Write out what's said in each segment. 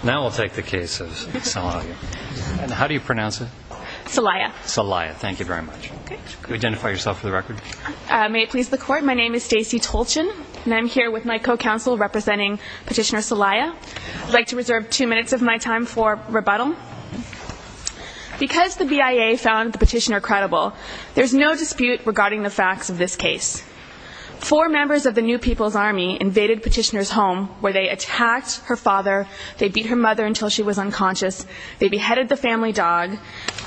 Salaya Because the BIA found the petitioner credible, there is no dispute regarding the facts of this case. Four members of the New People's Army invaded Petitioner's home where they attacked her father, they beat her mother until she was unconscious, they beheaded the family dog,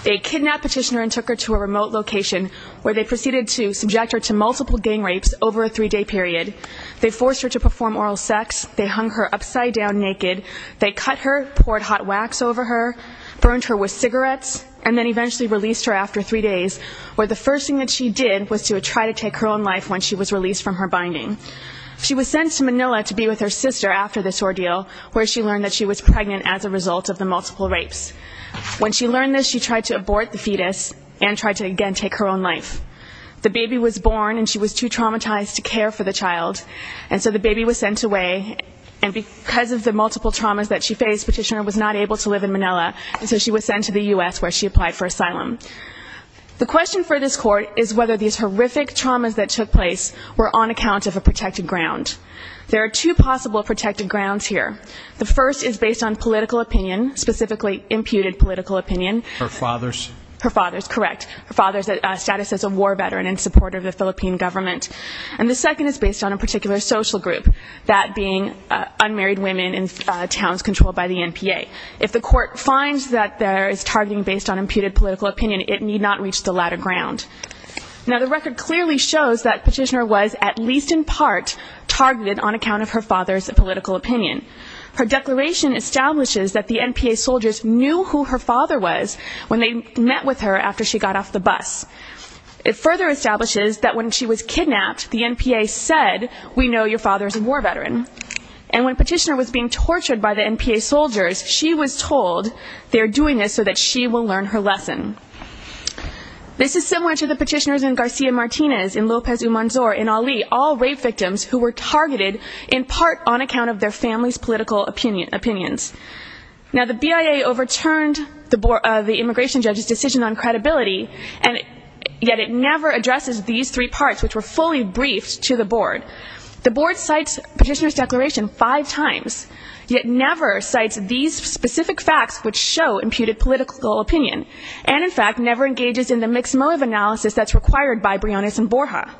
they kidnapped Petitioner and took her to a remote location, where they proceeded to subject her to multiple gang rapes over a three-day period. They forced her to perform oral sex, they hung her upside down naked, they cut her, poured hot wax over her, burned her with cigarettes, and then eventually released her after three days, where the first thing that she did was to try to take her own life when she was released from her binding. She was sent to Manila to be with her sister after this ordeal, where she learned that she was pregnant as a result of the multiple rapes. When she learned this, she tried to abort the fetus and tried to again take her own life. The baby was born and she was too traumatized to care for the child, and so the baby was sent away, and because of the multiple traumas that she faced, Petitioner was not able to live in Manila, and so she was sent to the U.S. where she applied for asylum. The question for this court is whether these horrific traumas that took place were on account of a protected ground. There are two possible protected grounds here. The first is based on political opinion, specifically imputed political opinion. Her father's? Her father's, correct. Her father's status as a war veteran in support of the Philippine government. And the second is based on a particular social group, that being unmarried women in towns controlled by the NPA. If the court finds that there is targeting based on imputed political opinion, it need not reach the latter ground. Now the record clearly shows that Petitioner was at least in part targeted on account of her father's political opinion. Her declaration establishes that the NPA soldiers knew who her father was when they met with her after she got off the bus. It further establishes that when she was kidnapped, the NPA said, we know your father's a war veteran. And when Petitioner was being tortured by the NPA soldiers, she was told they're doing this so that she will learn her lesson. This is similar to the petitioners in Garcia Martinez, in Lopez Umanzor, in Ali, all rape victims who were targeted in part on account of their family's political opinions. Now the BIA overturned the immigration judge's decision on credibility, and yet it never addresses these three parts, which were fully briefed to the board. The board cites Petitioner's declaration five times, yet never cites these specific facts which show imputed political opinion, and in fact never engages in the mixed motive analysis that's required by Briones and Borja.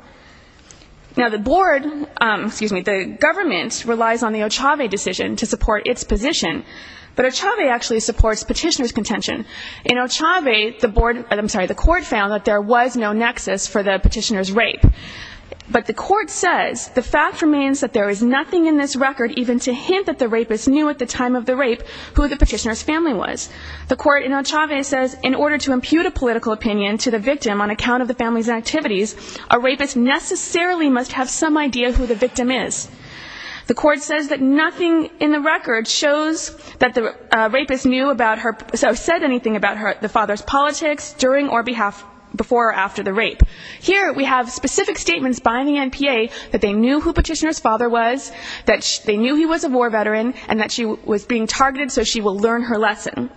Now the government relies on the Ochave decision to support its position, but Ochave actually supports Petitioner's contention. In Ochave, the court found that there was no nexus for the Petitioner's rape. But the court says, the fact remains that there is nothing in this record even to hint that the rapist knew at the time of the rape who the Petitioner's family was. The court in Ochave says, in order to impute a political opinion to the victim on account of the family's activities, a rapist necessarily must have some idea who the victim is. The court says that nothing in the record shows that the rapist knew about her or said anything about the father's politics during or before or after the rape. Here we have specific statements by the NPA that they knew who Petitioner's father was, that they knew he was a war veteran, and that she was being targeted so she will learn her lesson.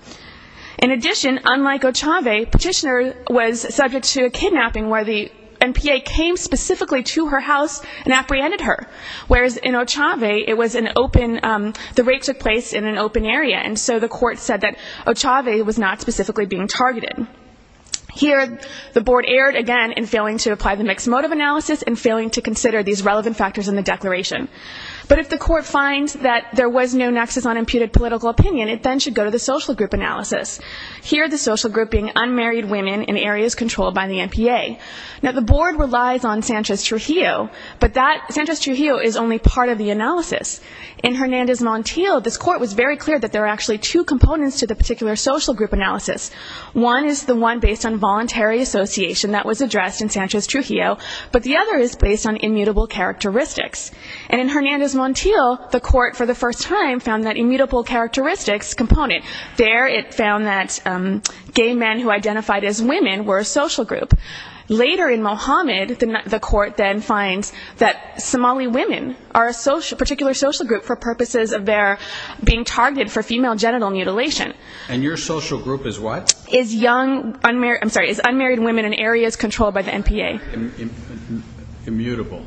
In addition, unlike Ochave, Petitioner was subject to a kidnapping where the NPA came specifically to her house and apprehended her, whereas in Ochave it was an open, the rape took place in an open area, and so the court said that Ochave was not specifically being targeted. Here the board erred again in failing to apply the mixed motive analysis and failing to consider these relevant factors in the declaration. But if the court finds that there was no nexus on imputed political opinion, it then should go to the social group analysis, here the social group being unmarried women in areas controlled by the NPA. Now the board relies on Sanchez-Trujillo, but that, Sanchez-Trujillo is only part of the analysis. In Hernandez-Montiel, this court was very clear that there are actually two components to the particular social group analysis. One is the one based on voluntary association that was addressed in Sanchez-Trujillo, but the other is based on immutable characteristics. And in Hernandez-Montiel, the court for the first time found that immutable characteristics component. There it found that gay men who identified as women were a social group. Later in Mohammed, the court then finds that Somali women are a particular social group for purposes of their being targeted for female genital mutilation. And your social group is what? Is young, I'm sorry, is unmarried women in areas controlled by the NPA. Immutable.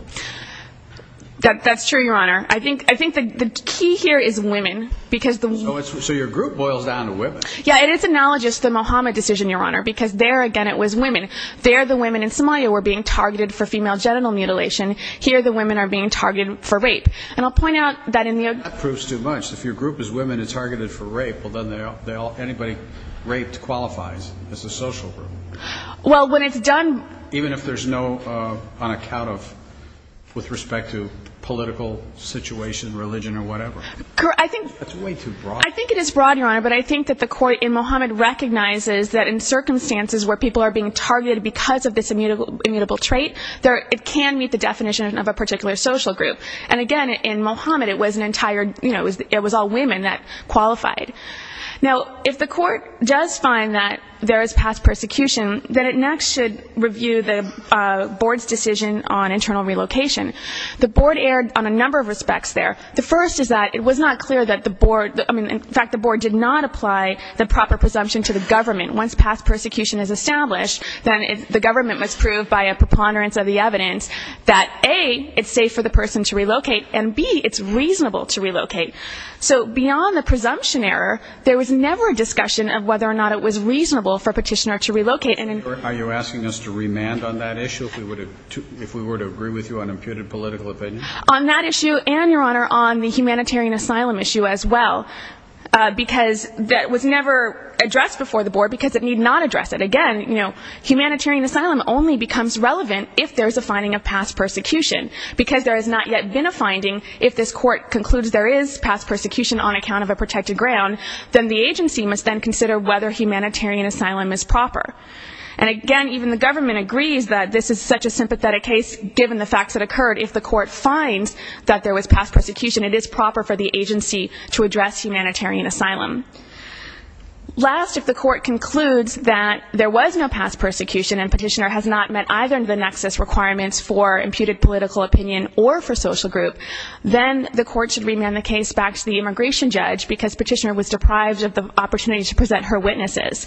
That's true, Your Honor. I think the key here is women. So your group boils down to women. Yeah, it is analogous to the Mohammed decision, Your Honor, because there, again, it was women. There the women in Somalia were being targeted for female genital mutilation. Here the women are being targeted for rape. And I'll point out that in the... That proves too much. If your group is women and targeted for rape, well then anybody raped qualifies as a social group. Well, when it's done... Even if there's no, on account of, with respect to political situation, religion or whatever. I think... That's way too broad. I think it is broad, Your Honor, but I think that the court in Mohammed recognizes that in circumstances where people are being targeted because of this immutable trait, it can meet the definition of a particular social group. And, again, in Mohammed it was an entire, you know, it was all women that qualified. Now, if the court does find that there is past persecution, then it next should review the board's decision on internal relocation. The board erred on a number of respects there. The first is that it was not clear that the board... I mean, in fact, the board did not apply the proper presumption to the government. Once past persecution is established, then the government must prove by a preponderance of the evidence that, A, it's safe for the person to relocate, and, B, it's reasonable to relocate. So beyond the presumption error, there was never a discussion of whether or not it was reasonable for a petitioner to relocate. Are you asking us to remand on that issue, if we were to agree with you on imputed political opinion? On that issue and, Your Honor, on the humanitarian asylum issue as well, because that was never addressed before the board because it need not address it. Again, you know, humanitarian asylum only becomes relevant if there is a finding of past persecution because there has not yet been a finding. If this court concludes there is past persecution on account of a protected ground, then the agency must then consider whether humanitarian asylum is proper. And, again, even the government agrees that this is such a sympathetic case given the facts that occurred. If the court finds that there was past persecution, it is proper for the agency to address humanitarian asylum. Last, if the court concludes that there was no past persecution and petitioner has not met either of the nexus requirements for imputed political opinion or for social group, then the court should remand the case back to the immigration judge because petitioner was deprived of the opportunity to present her witnesses.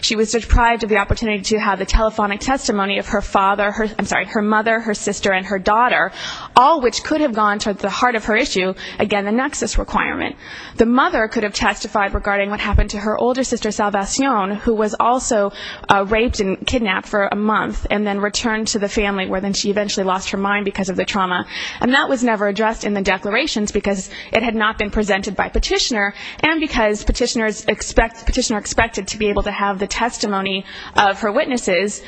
She was deprived of the opportunity to have the telephonic testimony of her father, I'm sorry, her mother, her sister, and her daughter, all which could have gone to the heart of her issue, again, the nexus requirement. The mother could have testified regarding what happened to her older sister, Salvation, who was also raped and kidnapped for a month and then returned to the family where she eventually lost her mind because of the trauma. And that was never addressed in the declarations because it had not been presented by petitioner and because petitioner expected to be able to have the testimony of her witnesses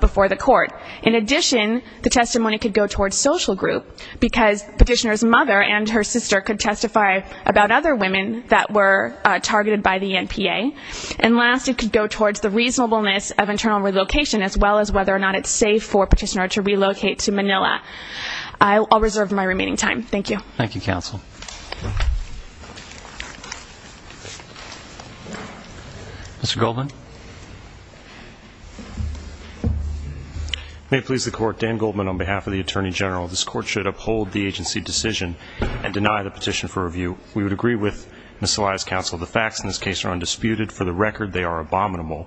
before the court. In addition, the testimony could go towards social group because petitioner's mother and her sister could testify about other women that were targeted by the NPA. And last, it could go towards the reasonableness of internal relocation as well as whether or not it's safe for petitioner to relocate to Manila. I'll reserve my remaining time. Thank you. Thank you, counsel. Mr. Goldman. May it please the court, Dan Goldman on behalf of the Attorney General, this court should uphold the agency decision and deny the petition for review. We would agree with Ms. Salia's counsel. The facts in this case are undisputed. For the record, they are abominable.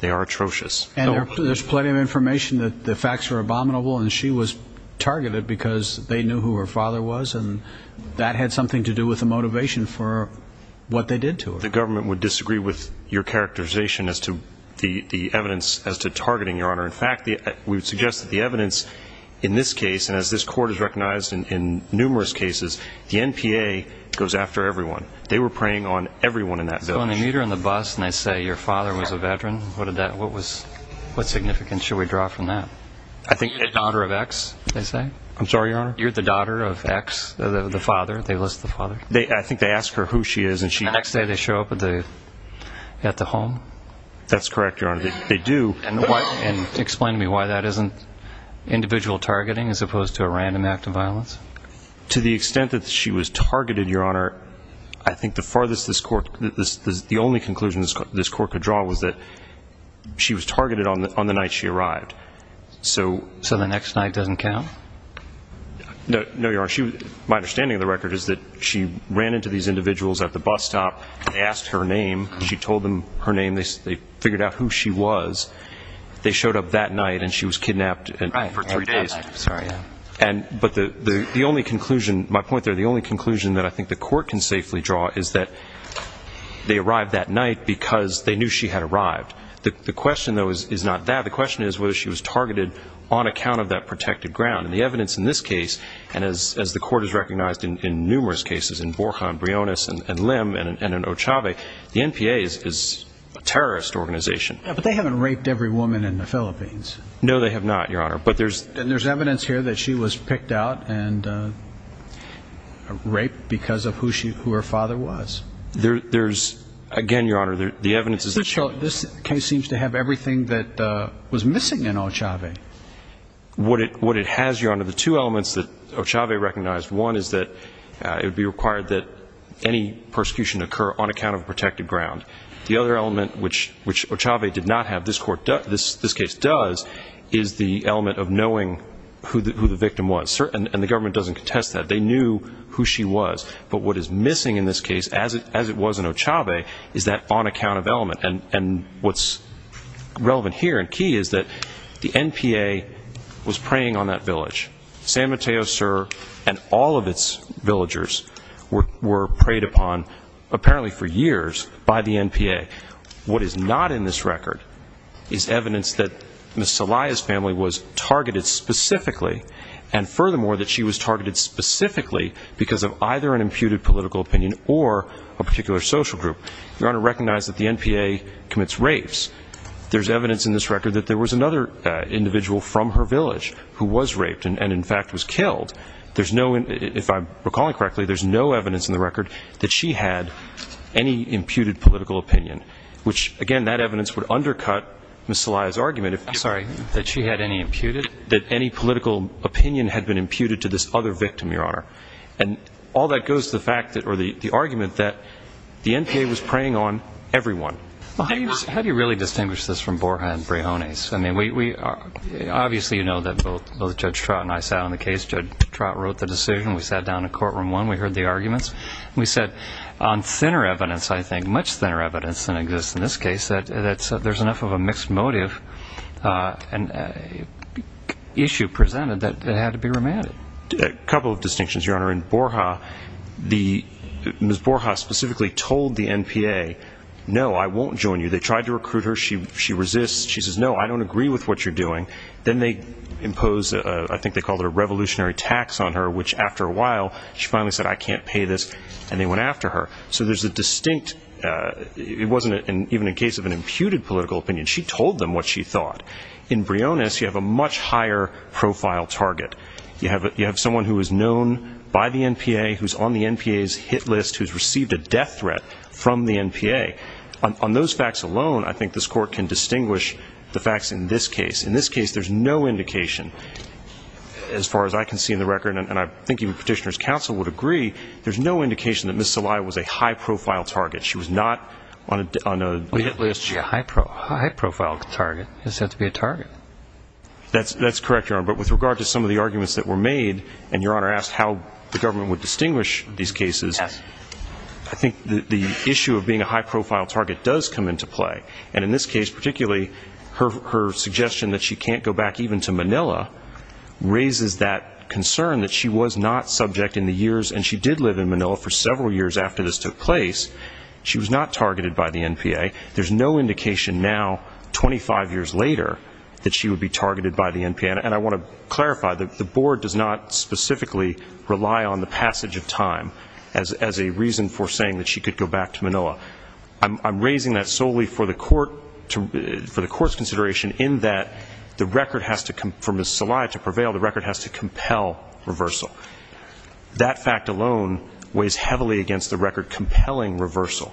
They are atrocious. And there's plenty of information that the facts are abominable and she was targeted because they knew who her father was and that had something to do with the motivation for what they did to her. The government would disagree with your characterization as to the evidence as to targeting, Your Honor. In fact, we would suggest that the evidence in this case, and as this court has recognized in numerous cases, the NPA goes after everyone. They were preying on everyone in that village. So when they meet her on the bus and they say your father was a veteran, what significance should we draw from that? You're the daughter of X, they say. I'm sorry, Your Honor? You're the daughter of X, the father. They list the father. I think they ask her who she is. And the next day they show up at the home. That's correct, Your Honor. They do. And explain to me why that isn't individual targeting as opposed to a random act of violence. To the extent that she was targeted, Your Honor, I think the only conclusion this court could draw was that she was targeted on the night she arrived. So the next night doesn't count? No, Your Honor. My understanding of the record is that she ran into these individuals at the bus stop. They asked her name. She told them her name. They figured out who she was. They showed up that night, and she was kidnapped for three days. But the only conclusion, my point there, the only conclusion that I think the court can safely draw is that they arrived that night because they knew she had arrived. The question, though, is not that. The question is whether she was targeted on account of that protected ground. And the evidence in this case, and as the court has recognized in numerous cases, in Borjan, Briones, and Lim, and in Ochave, the NPA is a terrorist organization. But they haven't raped every woman in the Philippines. No, they have not, Your Honor. And there's evidence here that she was picked out and raped because of who her father was. There's, again, Your Honor, the evidence is that she was. So this case seems to have everything that was missing in Ochave. What it has, Your Honor, the two elements that Ochave recognized, one is that it would be required that any persecution occur on account of protected ground. The other element, which Ochave did not have, this case does, is the element of knowing who the victim was. And the government doesn't contest that. They knew who she was. But what is missing in this case, as it was in Ochave, is that on-account of element. And what's relevant here and key is that the NPA was preying on that village. San Mateo Sur and all of its villagers were preyed upon, apparently for years, by the NPA. What is not in this record is evidence that Ms. Salaya's family was targeted specifically and, furthermore, that she was targeted specifically because of either an imputed political opinion or a particular social group. Your Honor, recognize that the NPA commits rapes. There's evidence in this record that there was another individual from her village who was raped and, in fact, was killed. If I'm recalling correctly, there's no evidence in the record that she had any imputed political opinion, which, again, that evidence would undercut Ms. Salaya's argument. I'm sorry, that she had any imputed? That any political opinion had been imputed to this other victim, Your Honor. And all that goes to the fact or the argument that the NPA was preying on everyone. How do you really distinguish this from Borja and Brejones? I mean, obviously you know that both Judge Trott and I sat on the case. Judge Trott wrote the decision. We sat down in courtroom one. We heard the arguments. We said on thinner evidence, I think, much thinner evidence than exists in this case, that there's enough of a mixed motive issue presented that it had to be remanded. A couple of distinctions, Your Honor. In Borja, Ms. Borja specifically told the NPA, no, I won't join you. They tried to recruit her. She resists. She says, no, I don't agree with what you're doing. Then they impose, I think they call it a revolutionary tax on her, which after a while she finally said, I can't pay this, and they went after her. So there's a distinct – it wasn't even a case of an imputed political opinion. She told them what she thought. In Brejones, you have a much higher profile target. You have someone who is known by the NPA, who's on the NPA's hit list, who's received a death threat from the NPA. On those facts alone, I think this Court can distinguish the facts in this case. In this case, there's no indication, as far as I can see in the record, and I think even Petitioner's counsel would agree, there's no indication that Ms. Celaya was a high-profile target. She was not on a hit list. A high-profile target is said to be a target. That's correct, Your Honor. But with regard to some of the arguments that were made, and Your Honor asked how the government would distinguish these cases, I think the issue of being a high-profile target does come into play. And in this case particularly, her suggestion that she can't go back even to Manila raises that concern that she was not subject in the years – and she did live in Manila for several years after this took place. She was not targeted by the NPA. There's no indication now, 25 years later, that she would be targeted by the NPA. And I want to clarify, the Board does not specifically rely on the passage of time as a reason for saying that she could go back to Manila. I'm raising that solely for the Court's consideration in that the record has to – for Ms. Celaya to prevail, the record has to compel reversal. That fact alone weighs heavily against the record compelling reversal.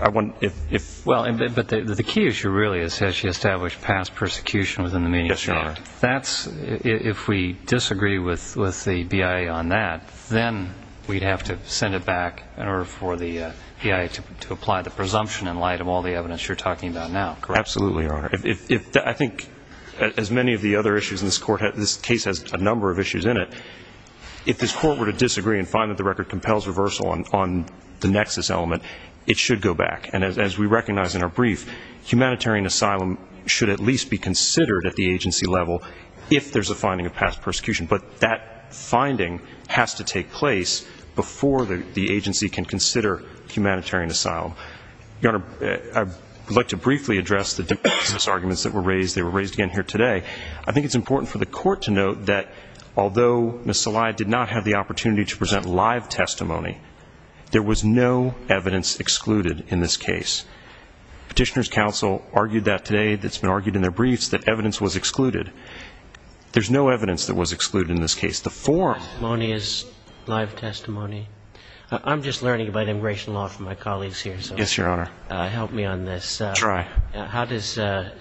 I want – if – Well, but the key issue really is has she established past persecution within the media? Yes, Your Honor. That's – if we disagree with the BIA on that, then we'd have to send it back in order for the BIA to apply the presumption in light of all the evidence you're talking about now, correct? Absolutely, Your Honor. If – I think as many of the other issues in this Court – this case has a number of issues in it. If this Court were to disagree and find that the record compels reversal on the nexus element, it should go back. And as we recognize in our brief, humanitarian asylum should at least be considered at the agency level if there's a finding of past persecution. But that finding has to take place before the agency can consider humanitarian asylum. Your Honor, I would like to briefly address the arguments that were raised. They were raised again here today. I think it's important for the Court to note that although Ms. Saleh did not have the opportunity to present live testimony, there was no evidence excluded in this case. Petitioners' counsel argued that today. It's been argued in their briefs that evidence was excluded. There's no evidence that was excluded in this case. The forum –– testimony is live testimony. I'm just learning about immigration law from my colleagues here. Yes, Your Honor. Help me on this. Try. How does the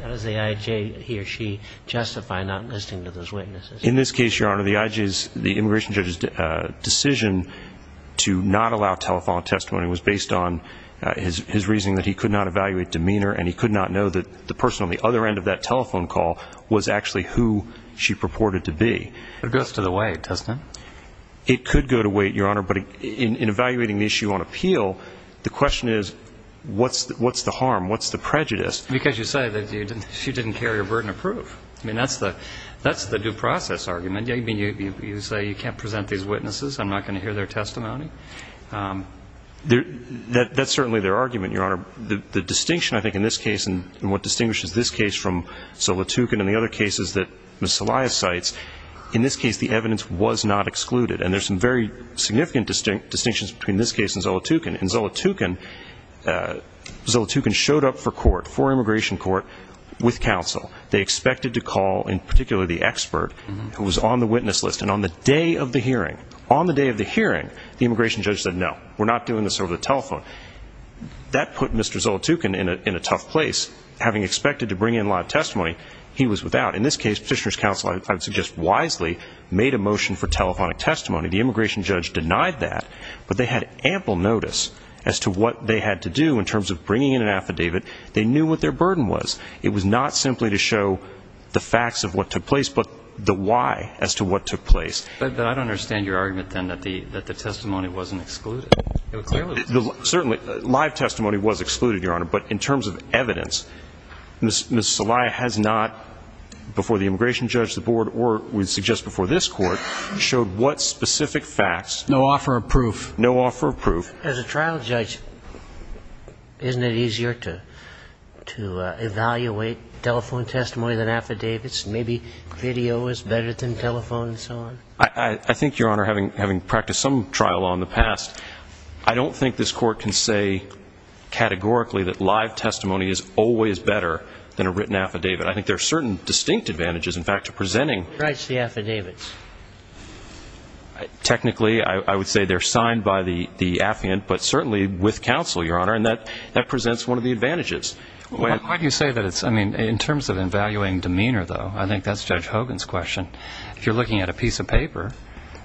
IJ, he or she, justify not listening to those witnesses? In this case, Your Honor, the IJ's – the immigration judge's decision to not allow telephone testimony was based on his reasoning that he could not evaluate demeanor and he could not know that the person on the other end of that telephone call was actually who she purported to be. It goes to the weight, doesn't it? It could go to weight, Your Honor, but in evaluating the issue on appeal, the question is what's the harm, what's the prejudice? Because you say that she didn't carry her burden of proof. I mean, that's the due process argument. I mean, you say you can't present these witnesses, I'm not going to hear their testimony. That's certainly their argument, Your Honor. The distinction, I think, in this case and what distinguishes this case from Zolotukin and the other cases that Ms. Salaya cites, in this case the evidence was not excluded. And there's some very significant distinctions between this case and Zolotukin. In Zolotukin, Zolotukin showed up for immigration court with counsel. They expected to call, in particular, the expert who was on the witness list. And on the day of the hearing, on the day of the hearing, the immigration judge said, no, we're not doing this over the telephone. That put Mr. Zolotukin in a tough place, having expected to bring in a lot of testimony he was without. In this case, Petitioner's Counsel, I would suggest wisely, made a motion for telephonic testimony. The immigration judge denied that, but they had ample notice as to what they had to do in terms of bringing in an affidavit. They knew what their burden was. It was not simply to show the facts of what took place, but the why as to what took place. But I don't understand your argument, then, that the testimony wasn't excluded. Certainly, live testimony was excluded, Your Honor, but in terms of evidence, Ms. Salaya has not, before the immigration judge, the board, or we suggest before this court, showed what specific facts. No offer of proof. No offer of proof. As a trial judge, isn't it easier to evaluate telephone testimony than affidavits? Maybe video is better than telephone and so on? I think, Your Honor, having practiced some trial law in the past, I don't think this court can say categorically that live testimony is always better than a written affidavit. I think there are certain distinct advantages, in fact, to presenting. Who writes the affidavits? Technically, I would say they're signed by the affiant, but certainly with counsel, Your Honor, and that presents one of the advantages. Why do you say that? I mean, in terms of evaluating demeanor, though, I think that's Judge Hogan's question. If you're looking at a piece of paper,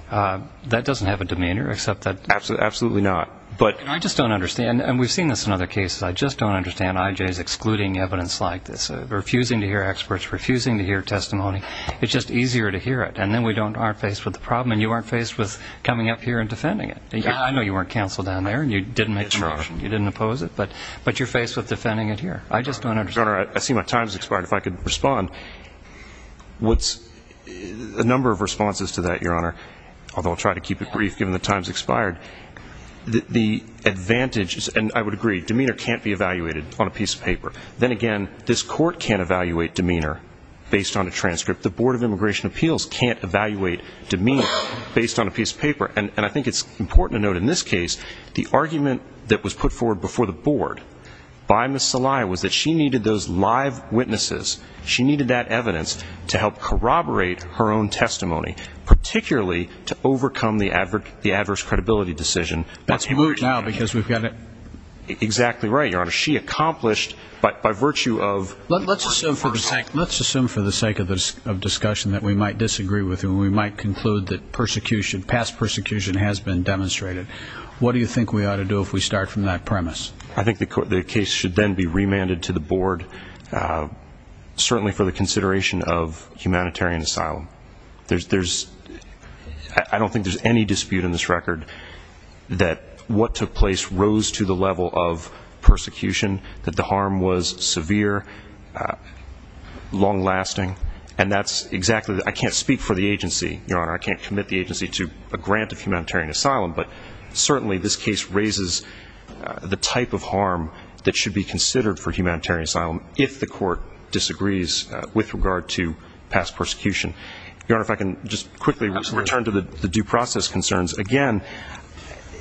that doesn't have a demeanor except that... Absolutely not. I just don't understand, and we've seen this in other cases, I just don't understand IJ's excluding evidence like this, refusing to hear experts, refusing to hear testimony. It's just easier to hear it, and then we aren't faced with the problem, and you aren't faced with coming up here and defending it. I know you weren't counsel down there, and you didn't make the motion. You didn't oppose it, but you're faced with defending it here. I just don't understand. Your Honor, I see my time has expired. If I could respond... A number of responses to that, Your Honor, although I'll try to keep it brief given the time has expired. The advantage, and I would agree, demeanor can't be evaluated on a piece of paper. Then again, this court can't evaluate demeanor based on a transcript. The Board of Immigration Appeals can't evaluate demeanor based on a piece of paper. And I think it's important to note in this case, the argument that was put forward before the Board by Ms. Saliha was that she needed those live witnesses, she needed that evidence to help corroborate her own testimony, particularly to overcome the adverse credibility decision. That's blurred now because we've got... Exactly right, Your Honor. She accomplished, by virtue of... Let's assume for the sake of discussion that we might disagree with you and we might conclude that past persecution has been demonstrated. What do you think we ought to do if we start from that premise? I think the case should then be remanded to the Board, certainly for the consideration of humanitarian asylum. I don't think there's any dispute in this record that what took place arose to the level of persecution, that the harm was severe, long-lasting. And that's exactly... I can't speak for the agency, Your Honor. I can't commit the agency to a grant of humanitarian asylum, but certainly this case raises the type of harm that should be considered for humanitarian asylum if the court disagrees with regard to past persecution. Your Honor, if I can just quickly return to the due process concerns. Again...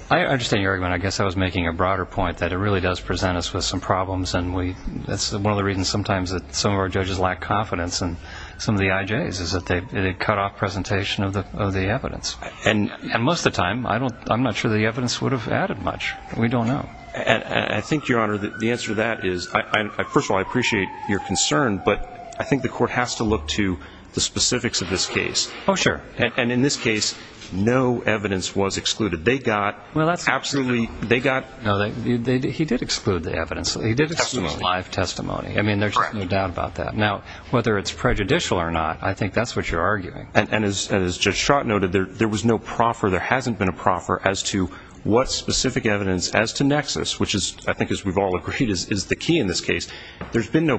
I understand your argument. I guess I was making a broader point that it really does present us with some problems, and that's one of the reasons sometimes that some of our judges lack confidence in some of the IJs is that they cut off presentation of the evidence. And most of the time, I'm not sure the evidence would have added much. We don't know. I think, Your Honor, the answer to that is... First of all, I appreciate your concern, but I think the court has to look to the specifics of this case. Oh, sure. And in this case, no evidence was excluded. They got absolutely... No, he did exclude the evidence. He did exclude live testimony. I mean, there's no doubt about that. Now, whether it's prejudicial or not, I think that's what you're arguing. And as Judge Schrott noted, there was no proffer. There hasn't been a proffer as to what specific evidence as to nexus, which I think as we've all agreed is the key in this case. Your argument's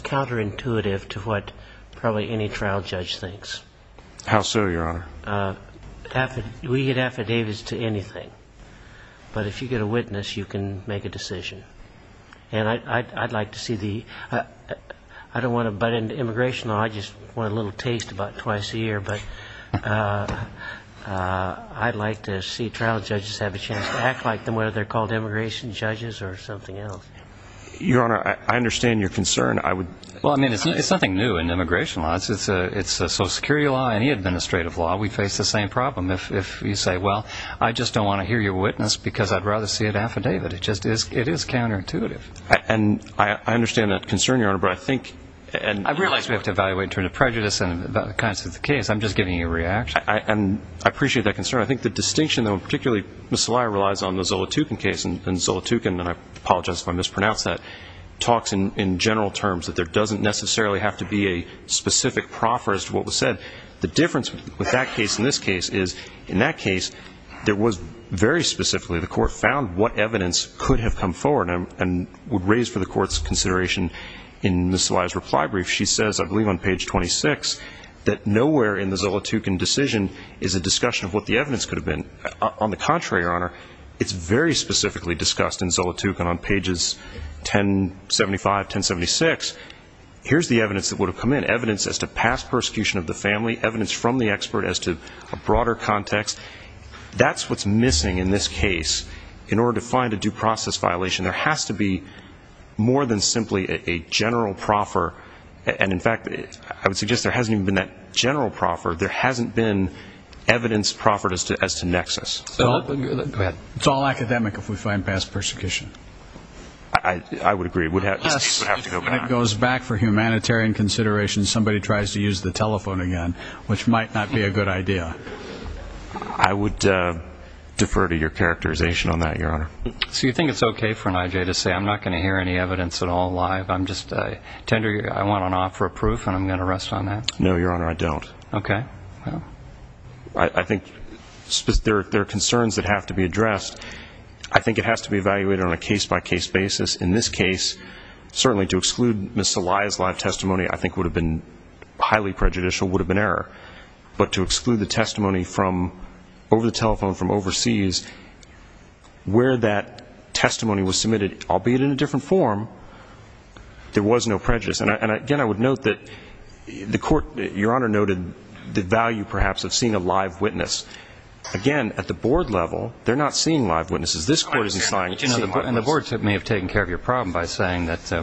counterintuitive to what probably any trial judge thinks. How so, Your Honor? We get affidavits to anything. But if you get a witness, you can make a decision. And I'd like to see the... I don't want to butt into immigration law. I just want a little taste about twice a year. But I'd like to see trial judges have a chance to act like them, whether they're called immigration judges or something else. Your Honor, I understand your concern. I would... Well, I mean, it's nothing new in immigration law. It's a Social Security law, any administrative law. We face the same problem. If you say, well, I just don't want to hear your witness because I'd rather see an affidavit, it just is counterintuitive. And I understand that concern, Your Honor, but I think... I realize we have to evaluate in terms of prejudice and the kinds of the case. I'm just giving you a reaction. And I appreciate that concern. I think the distinction, though, in particular, on the Zolotukin case, and Zolotukin, and I apologize if I mispronounce that, talks in general terms, that there doesn't necessarily have to be a specific proffer as to what was said. The difference with that case and this case is, in that case, there was very specifically, the court found what evidence could have come forward and would raise for the court's consideration in Ms. Salaya's reply brief. She says, I believe on page 26, that nowhere in the Zolotukin decision is a discussion of what the evidence could have been. On the contrary, Your Honor, it's very specifically discussed in Zolotukin on pages 1075, 1076. Here's the evidence that would have come in, evidence as to past persecution of the family, evidence from the expert as to a broader context. That's what's missing in this case in order to find a due process violation. There has to be more than simply a general proffer. And, in fact, I would suggest there hasn't even been that general proffer. There hasn't been evidence proffered as to nexus. Go ahead. It's all academic if we find past persecution. I would agree. Yes. It goes back for humanitarian considerations. Somebody tries to use the telephone again, which might not be a good idea. I would defer to your characterization on that, Your Honor. So you think it's okay for an IJ to say, I'm not going to hear any evidence at all live. I'm just tender. I want an offer of proof, and I'm going to rest on that. No, Your Honor, I don't. Okay. Well, I think there are concerns that have to be addressed. I think it has to be evaluated on a case-by-case basis. In this case, certainly to exclude Ms. Saliah's live testimony I think would have been highly prejudicial, would have been error. But to exclude the testimony over the telephone from overseas where that testimony was submitted, albeit in a different form, there was no prejudice. And, again, I would note that the court, Your Honor noted the value perhaps of seeing a live witness. Again, at the board level, they're not seeing live witnesses. This court is deciding to see a live witness. And the board may have taken care of your problem by saying that we're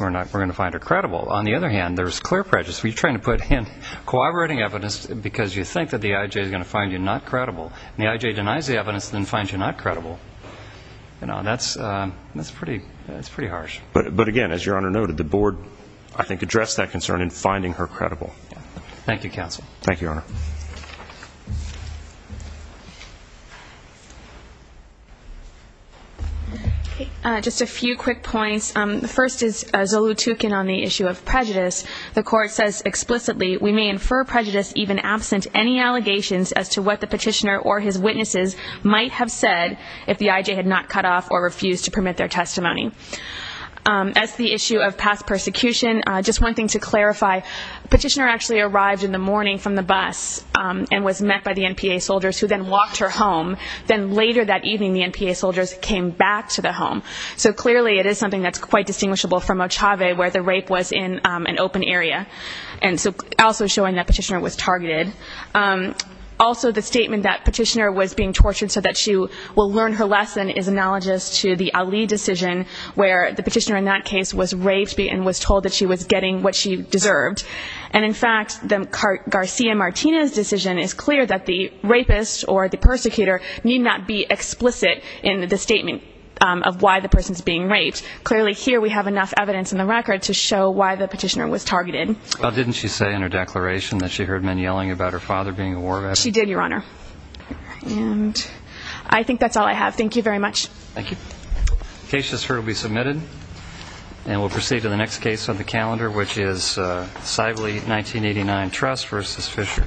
going to find her credible. On the other hand, there's clear prejudice. We're trying to put in corroborating evidence because you think that the IJ is going to find you not credible. And the IJ denies the evidence and then finds you not credible. That's pretty harsh. But, again, as Your Honor noted, the board, I think, addressed that concern in finding her credible. Thank you, counsel. Thank you, Your Honor. Just a few quick points. The first is Zulu Tukan on the issue of prejudice. The court says explicitly we may infer prejudice even absent any allegations as to what the petitioner or his witnesses might have said if the IJ had not cut off or refused to permit their testimony. As to the issue of past persecution, just one thing to clarify. Petitioner actually arrived in the morning from the bus and was met by the NPA soldiers who then walked her home. Then later that evening, the NPA soldiers came back to the home. So, clearly, it is something that's quite distinguishable from Ochave where the rape was in an open area. And so also showing that petitioner was targeted. Also, the statement that petitioner was being tortured so that she will learn her lesson is analogous to the Ali decision where the petitioner in that case was raped and was told that she was getting what she deserved. And, in fact, Garcia-Martinez decision is clear that the rapist or the persecutor need not be explicit in the statement of why the person is being raped. Clearly, here we have enough evidence in the record to show why the petitioner was targeted. Well, didn't she say in her declaration that she heard men yelling about her father being a war veteran? She did, Your Honor. And I think that's all I have. Thank you very much. Thank you. Case just heard will be submitted. And we'll proceed to the next case on the calendar, which is Sibley 1989 Trust v. Fisher.